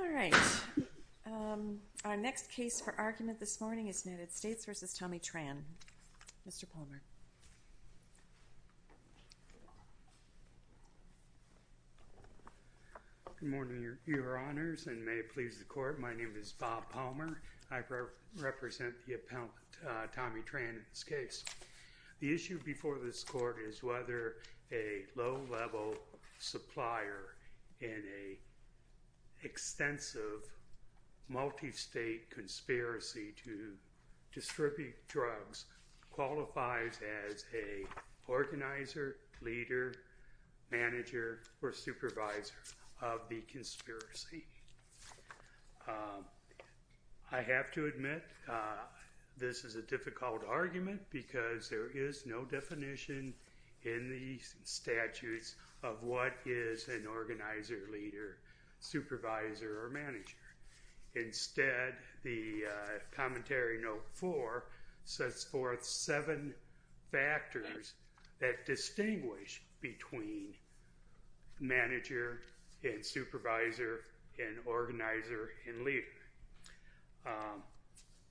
Good morning, your honors, and may it please the court, my name is Bob Palmer, and I'm representing the appellant Tommy Tran in this case. The issue before this court is whether a low-level supplier in an extensive, multi-state conspiracy to distribute drugs qualifies as an organizer, leader, manager, or supervisor of the conspiracy. I have to admit this is a difficult argument because there is no definition in the statutes of what is an organizer, leader, supervisor, or manager. Instead, the Commentary Note 4 sets forth seven factors that distinguish between manager and supervisor and organizer and leader.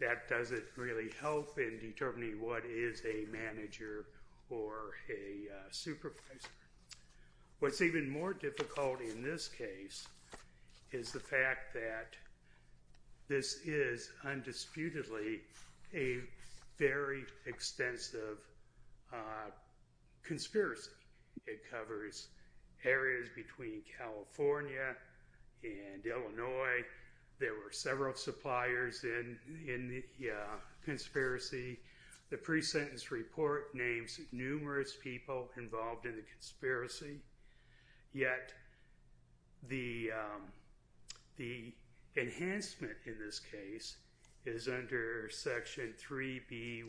That doesn't really help in determining what is a manager or a supervisor. What's even more difficult in this case is the fact that this is undisputedly a very extensive conspiracy. It covers areas between California and Illinois. There were several suppliers in the conspiracy. The pre-sentence report names numerous people involved in the conspiracy, yet the enhancement in this case is under Section 3B11C,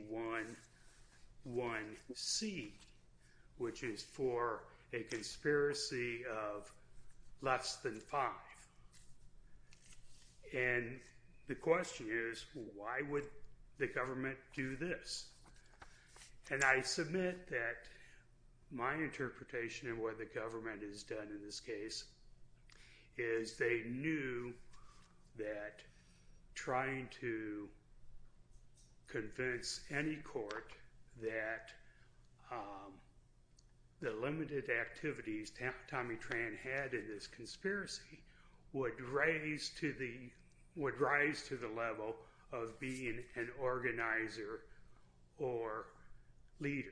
which is for a conspiracy of less than five. The question is, why would the government do this? I submit that my interpretation of what the government has done in this case is they knew that trying to convince any court that the limited activities Tommy Tran had in this conspiracy would rise to the level of being an organizer or leader.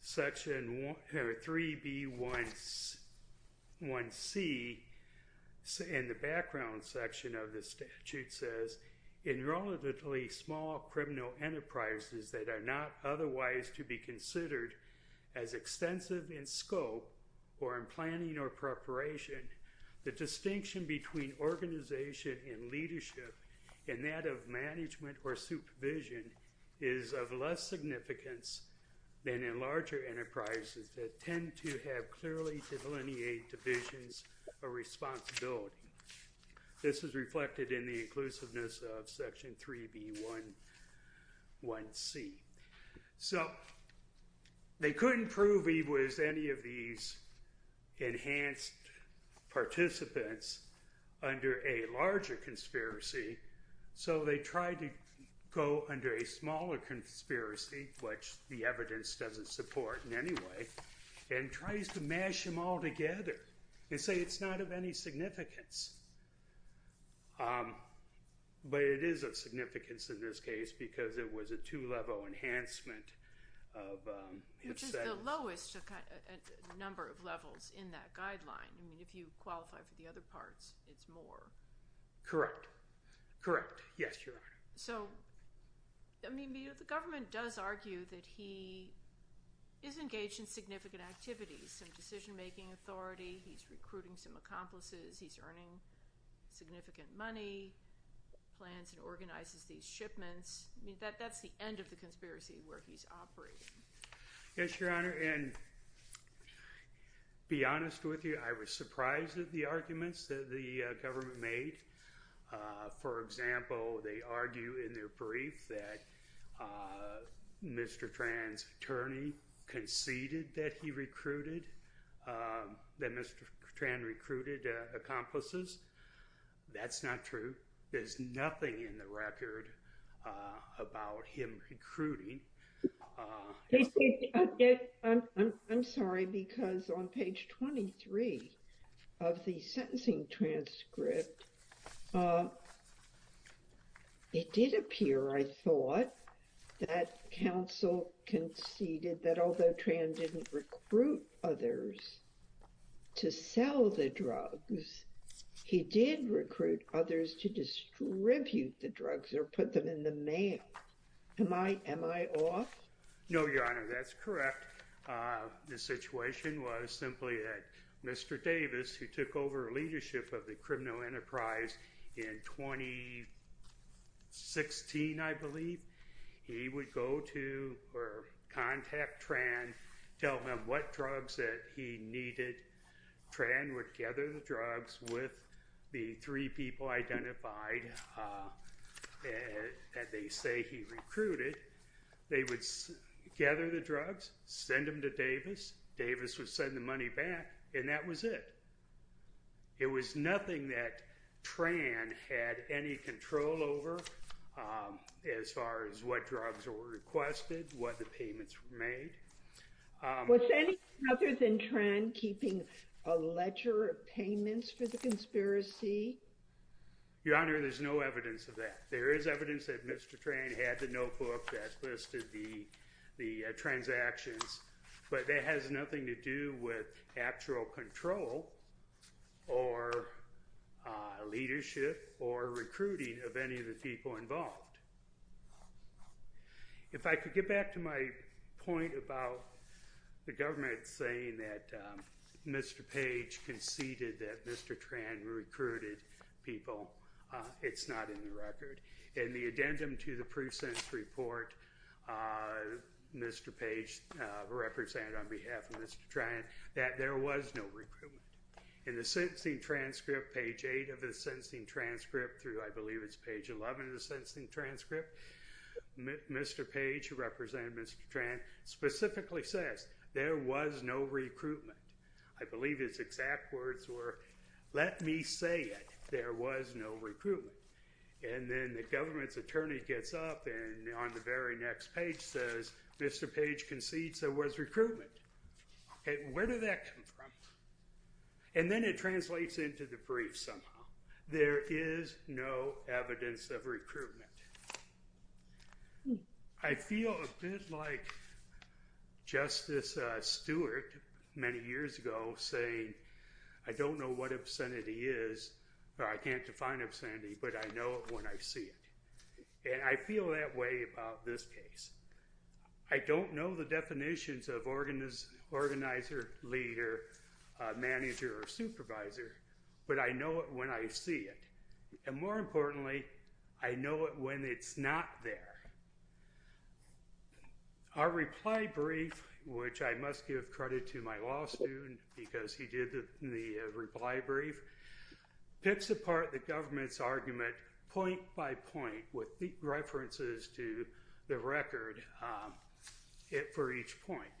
Section 3B11C in the background section of the statute says, In relatively small criminal enterprises that are not otherwise to be considered as extensive in scope or in planning or preparation, the distinction between organization and leadership and that of management or supervision is of less significance than in larger enterprises that tend to have clearly delineated divisions of responsibility. This is reflected in the inclusiveness of Section 3B11C. So they couldn't prove he was any of these enhanced participants under a larger conspiracy, so they tried to go under a smaller conspiracy, which the evidence doesn't support in any way, and tries to mash them all together and say it's not of any significance. But it is of significance in this case because it was a two-level enhancement of his sentence. Which is the lowest number of levels in that guideline. I mean, if you qualify for the other parts, it's more. Correct. Correct. Yes, Your Honor. I mean, the government does argue that he is engaged in significant activities. Some decision-making authority, he's recruiting some accomplices, he's earning significant money, plans and organizes these shipments. That's the end of the conspiracy where he's operating. Yes, Your Honor. And to be honest with you, I was surprised at the arguments that the government made. For example, they argue in their brief that Mr. Tran's attorney conceded that he recruited, that Mr. Tran recruited accomplices. That's not true. There's nothing in the record about him recruiting. I'm sorry, because on page 23 of the sentencing transcript, it did appear, I thought, that counsel conceded that although Tran didn't recruit others to sell the drugs, he did recruit others to distribute the drugs or put them in the mail. Am I off? No, Your Honor. That's correct. The situation was simply that Mr. Davis, who took over leadership of the criminal enterprise in 2016, I believe, he would go to or contact Tran, tell him what drugs that he needed. Tran would gather the drugs with the three people identified that they say he recruited. They would gather the drugs, send them to Davis. Davis would send the money back, and that was it. It was nothing that Tran had any control over as far as what drugs were requested, what the payments were made. Was anything other than Tran keeping a ledger of payments for the conspiracy? Your Honor, there's no evidence of that. There is evidence that Mr. Tran had the notebook that listed the transactions, but that has nothing to do with actual control or leadership or recruiting of any of the people involved. If I could get back to my point about the government saying that Mr. Page conceded that Mr. Tran recruited people, it's not in the record. In the addendum to the proof sense report, Mr. Page represented on behalf of Mr. Tran that there was no recruitment. In the sentencing transcript, page 8 of the sentencing transcript through I believe it's page 11 of the sentencing transcript, Mr. Page, who represented Mr. Tran, specifically says, there was no recruitment. I believe his exact words were, let me say it. There was no recruitment. And then the government's attorney gets up and on the very next page says, Mr. Page concedes there was recruitment. Where did that come from? And then it translates into the brief somehow. There is no evidence of recruitment. I feel a bit like Justice Stewart many years ago saying, I don't know what obscenity is, or I can't define obscenity, but I know it when I see it. And I feel that way about this case. I don't know the definitions of organizer, leader, manager, or supervisor, but I know it when I see it. And more importantly, I know it when it's not there. Our reply brief, which I must give credit to my law student because he did the reply brief, picks apart the government's argument point by point with references to the record for each point.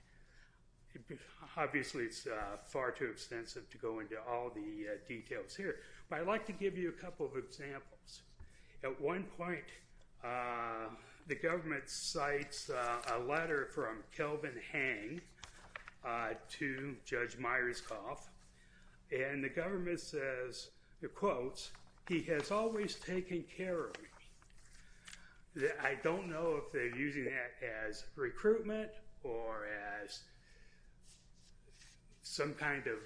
Obviously, it's far too extensive to go into all the details here, but I'd like to give you a couple of examples. At one point, the government cites a letter from Kelvin Hang to Judge Myerscough. And the government says, it quotes, he has always taken care of me. I don't know if they're using that as recruitment or as some kind of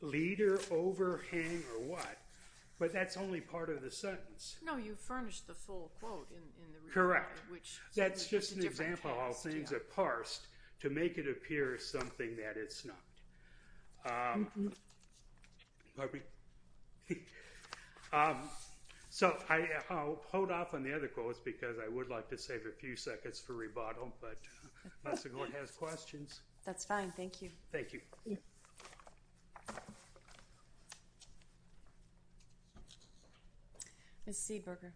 leader over Hang or what, but that's only part of the sentence. No, you furnished the full quote in the report. Correct. That's just an example of how things are parsed to make it appear something that it's not. So, I'll hold off on the other quotes because I would like to save a few seconds for rebuttal, but unless the court has questions. That's fine. Thank you. Thank you. Ms. Seaburger.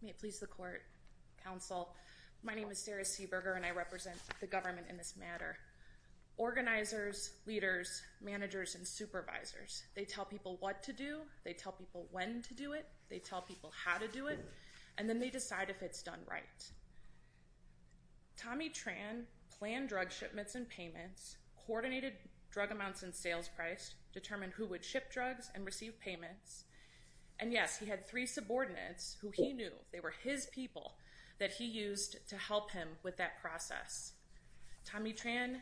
May it please the court, counsel, my name is Sarah Seaburger and I represent the government in this matter. Organizers, leaders, managers, and supervisors, they tell people what to do, they tell people when to do it, they tell people how to do it, and then they decide if it's done right. Tommy Tran planned drug shipments and payments, coordinated drug amounts and sales price, determined who would ship drugs and receive payments. And yes, he had three subordinates who he knew, they were his people, that he used to help him with that process. Tommy Tran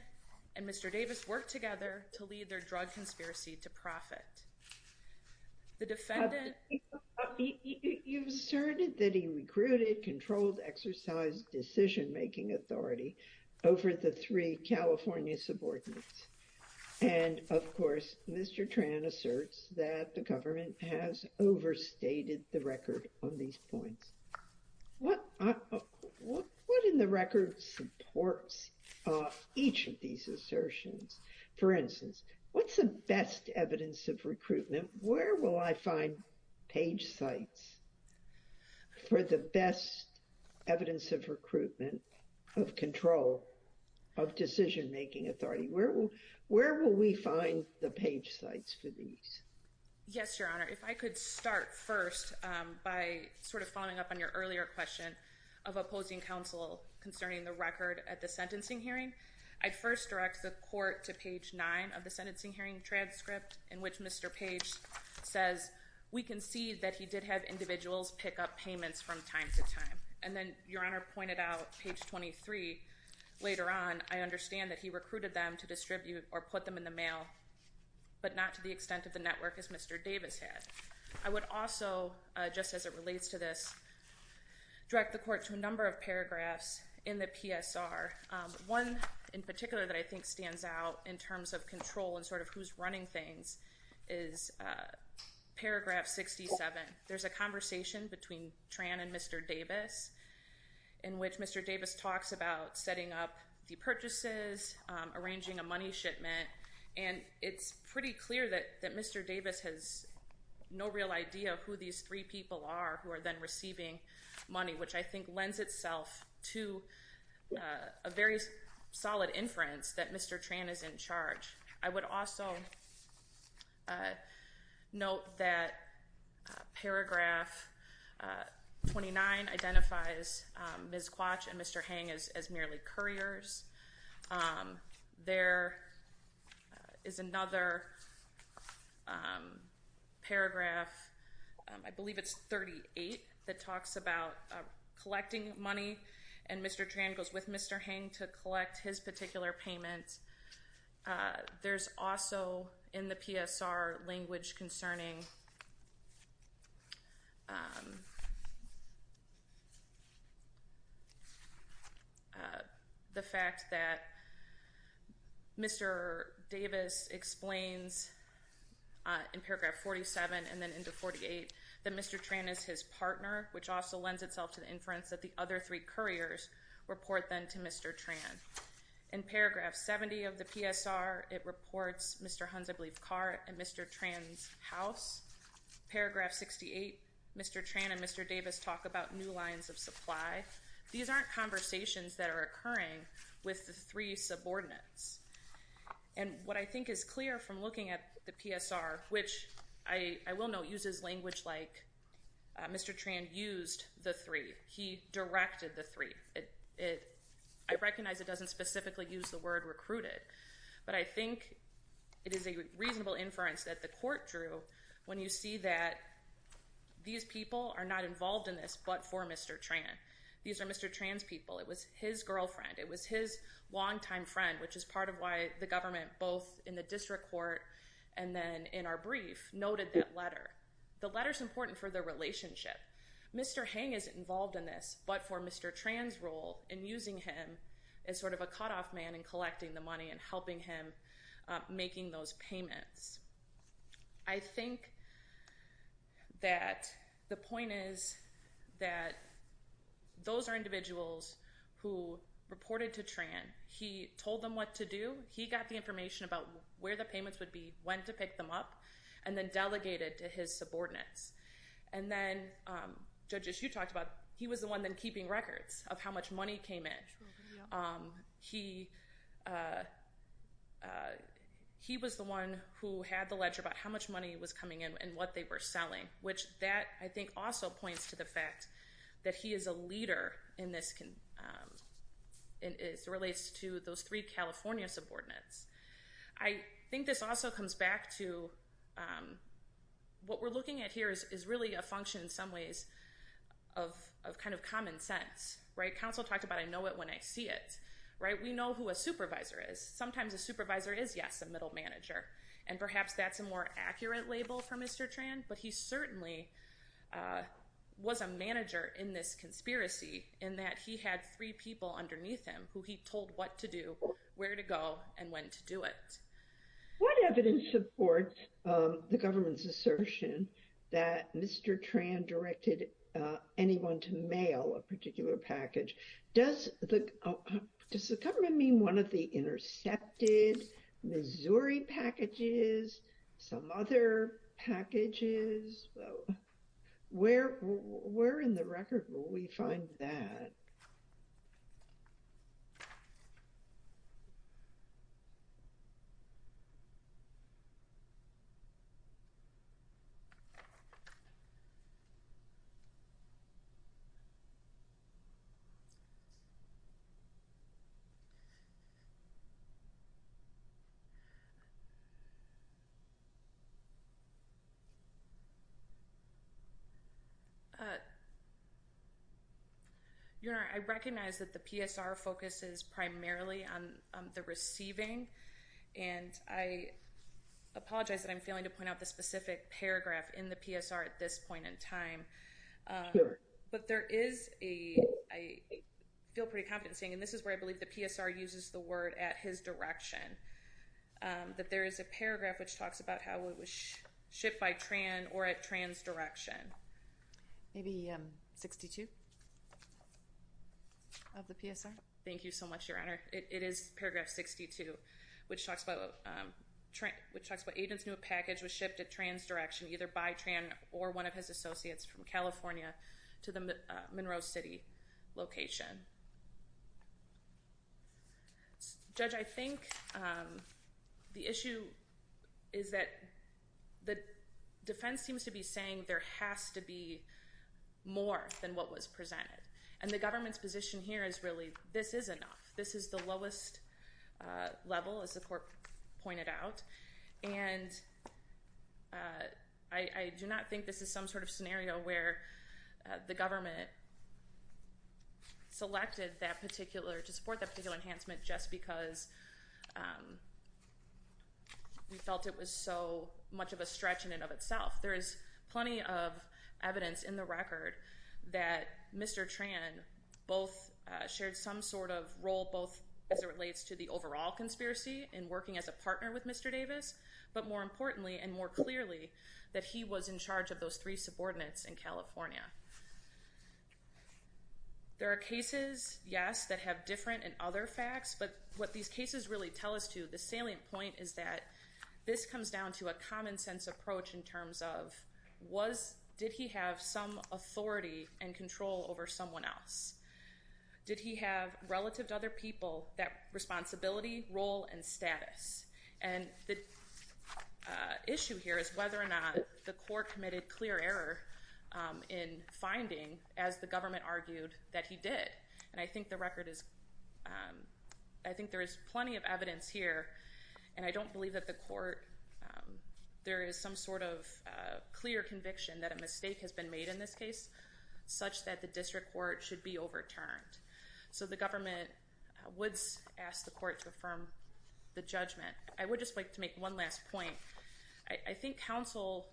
and Mr. Davis worked together to lead their drug conspiracy to profit. The defendant... You've asserted that he recruited controlled exercise decision-making authority over the three California subordinates. And, of course, Mr. Tran asserts that the government has overstated the record on these points. What in the record supports each of these assertions? For instance, what's the best evidence of recruitment? Where will I find page sites for the best evidence of recruitment of control of decision-making authority? Where will we find the page sites for these? Yes, Your Honor. If I could start first by sort of following up on your earlier question of opposing counsel concerning the record at the sentencing hearing. I'd first direct the court to page 9 of the sentencing hearing transcript in which Mr. Page says, we can see that he did have individuals pick up payments from time to time. And then Your Honor pointed out page 23 later on, I understand that he recruited them to distribute or put them in the mail, but not to the extent of the network as Mr. Davis had. I would also, just as it relates to this, direct the court to a number of paragraphs in the PSR. One in particular that I think stands out in terms of control and sort of who's running things is paragraph 67. There's a conversation between Tran and Mr. Davis in which Mr. Davis talks about setting up the purchases, arranging a money shipment, and it's pretty clear that Mr. Davis has no real idea who these three people are who are then receiving money, which I think lends itself to a very solid inference that Mr. Tran is in charge. I would also note that paragraph 29 identifies Ms. Quach and Mr. Hang as merely couriers. There is another paragraph, I believe it's 38, that talks about collecting money, and Mr. Tran goes with Mr. Hang to collect his particular payment. There's also in the PSR language concerning the fact that Mr. Davis explains in paragraph 47 and then into 48 that Mr. Tran is his partner, which also lends itself to the inference that the other three couriers report then to Mr. Tran. In paragraph 70 of the PSR, it reports Mr. Hunt's, I believe, car at Mr. Tran's house. Paragraph 68, Mr. Tran and Mr. Davis talk about new lines of supply. These aren't conversations that are occurring with the three subordinates. And what I think is clear from looking at the PSR, which I will note uses language like Mr. Tran used the three. He directed the three. I recognize it doesn't specifically use the word recruited, but I think it is a reasonable inference that the court drew when you see that these people are not involved in this but for Mr. Tran. These are Mr. Tran's people. It was his girlfriend. It was his longtime friend, which is part of why the government, both in the district court and then in our brief, noted that letter. The letter's important for their relationship. Mr. Hang isn't involved in this, but for Mr. Tran's role in using him as sort of a cutoff man in collecting the money and helping him making those payments. I think that the point is that those are individuals who reported to Tran. He told them what to do. He got the information about where the payments would be, when to pick them up, and then delegated to his subordinates. And then, Judge, as you talked about, he was the one then keeping records of how much money came in. He was the one who had the ledger about how much money was coming in and what they were selling, which that, I think, also points to the fact that he is a leader as it relates to those three California subordinates. I think this also comes back to what we're looking at here is really a function in some ways of kind of common sense. Counsel talked about, I know it when I see it. We know who a supervisor is. Sometimes a supervisor is, yes, a middle manager, and perhaps that's a more accurate label for Mr. Tran, but he certainly was a manager in this conspiracy in that he had three people underneath him who he told what to do, where to go, and when to do it. What evidence supports the government's assertion that Mr. Tran directed anyone to mail a particular package? Does the government mean one of the intercepted Missouri packages, some other packages? Where in the record will we find that? I recognize that the PSR focuses primarily on the receiving, and I apologize that I'm failing to point out the specific paragraph in the PSR at this point in time, but there is a, I feel pretty confident in saying, and this is where I believe the PSR uses the word at his direction, that there is a paragraph which talks about how it was shipped by Tran or at Tran's direction. Maybe 62 of the PSR? Thank you so much, Your Honor. It is paragraph 62, which talks about agents knew a package was shipped at Tran's direction, either by Tran or one of his associates from California to the Monroe City location. Judge, I think the issue is that the defense seems to be saying there has to be more than what was presented, and the government's position here is really this is enough. This is the lowest level, as the court pointed out, and I do not think this is some sort of scenario where the government selected that particular, to support that particular enhancement just because we felt it was so much of a stretch in and of itself. There is plenty of evidence in the record that Mr. Tran both shared some sort of role, both as it relates to the overall conspiracy in working as a partner with Mr. Davis, but more importantly and more clearly that he was in charge of those three subordinates in California. There are cases, yes, that have different and other facts, but what these cases really tell us to, the salient point is that this comes down to a common sense approach in terms of did he have some authority and control over someone else? Did he have, relative to other people, that responsibility, role, and status? And the issue here is whether or not the court committed clear error in finding, as the government argued, that he did. And I think the record is, I think there is plenty of evidence here, and I don't believe that the court, there is some sort of clear conviction that a mistake has been made in this case, such that the district court should be overturned. So the government would ask the court to affirm the judgment. I would just like to make one last point. I think counsel,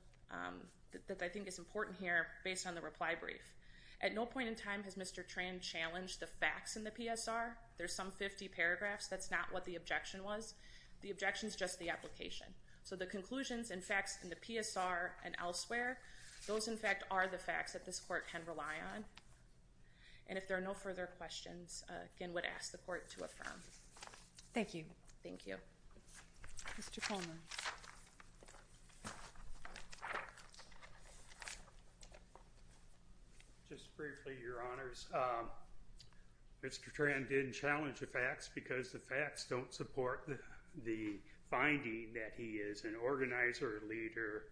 that I think is important here, based on the reply brief, at no point in time has Mr. Tran challenged the facts in the PSR. There's some 50 paragraphs. That's not what the objection was. The objection is just the application. So the conclusions and facts in the PSR and elsewhere, those, in fact, are the facts that this court can rely on. And if there are no further questions, again, would ask the court to affirm. Thank you. Thank you. Mr. Coleman. Just briefly, Your Honors. Mr. Tran didn't challenge the facts because the facts don't support the finding that he is an organizer, leader,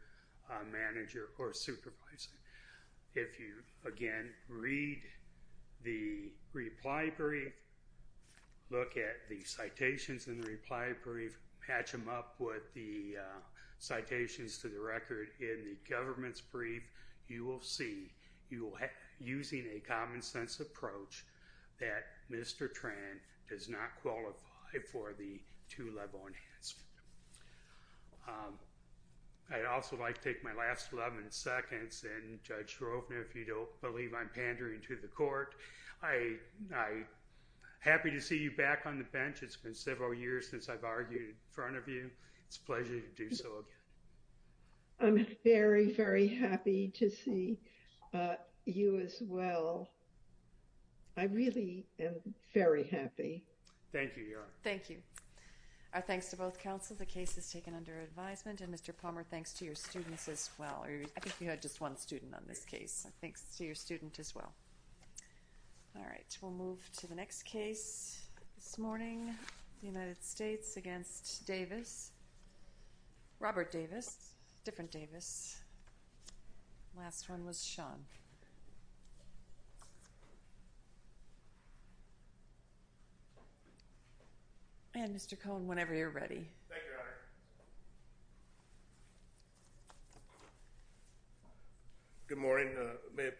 manager, or supervisor. If you, again, read the reply brief, look at the citations in the reply brief, patch them up with the citations to the record in the government's brief, you will see, using a common-sense approach, that Mr. Tran does not qualify for the two-level enhancement. I'd also like to take my last 11 seconds. And, Judge Shrovener, if you don't believe I'm pandering to the court, I'm happy to see you back on the bench. It's been several years since I've argued in front of you. It's a pleasure to do so again. I'm very, very happy to see you as well. I really am very happy. Thank you, Your Honor. Thank you. Our thanks to both counsel. The case is taken under advisement. And, Mr. Palmer, thanks to your students as well. I think you had just one student on this case. Thanks to your student as well. All right. We'll move to the next case this morning, the United States against Davis. Robert Davis. Different Davis. Last one was Sean. And, Mr. Cohn, whenever you're ready. Thank you, Your Honor. Good morning. May it please the court.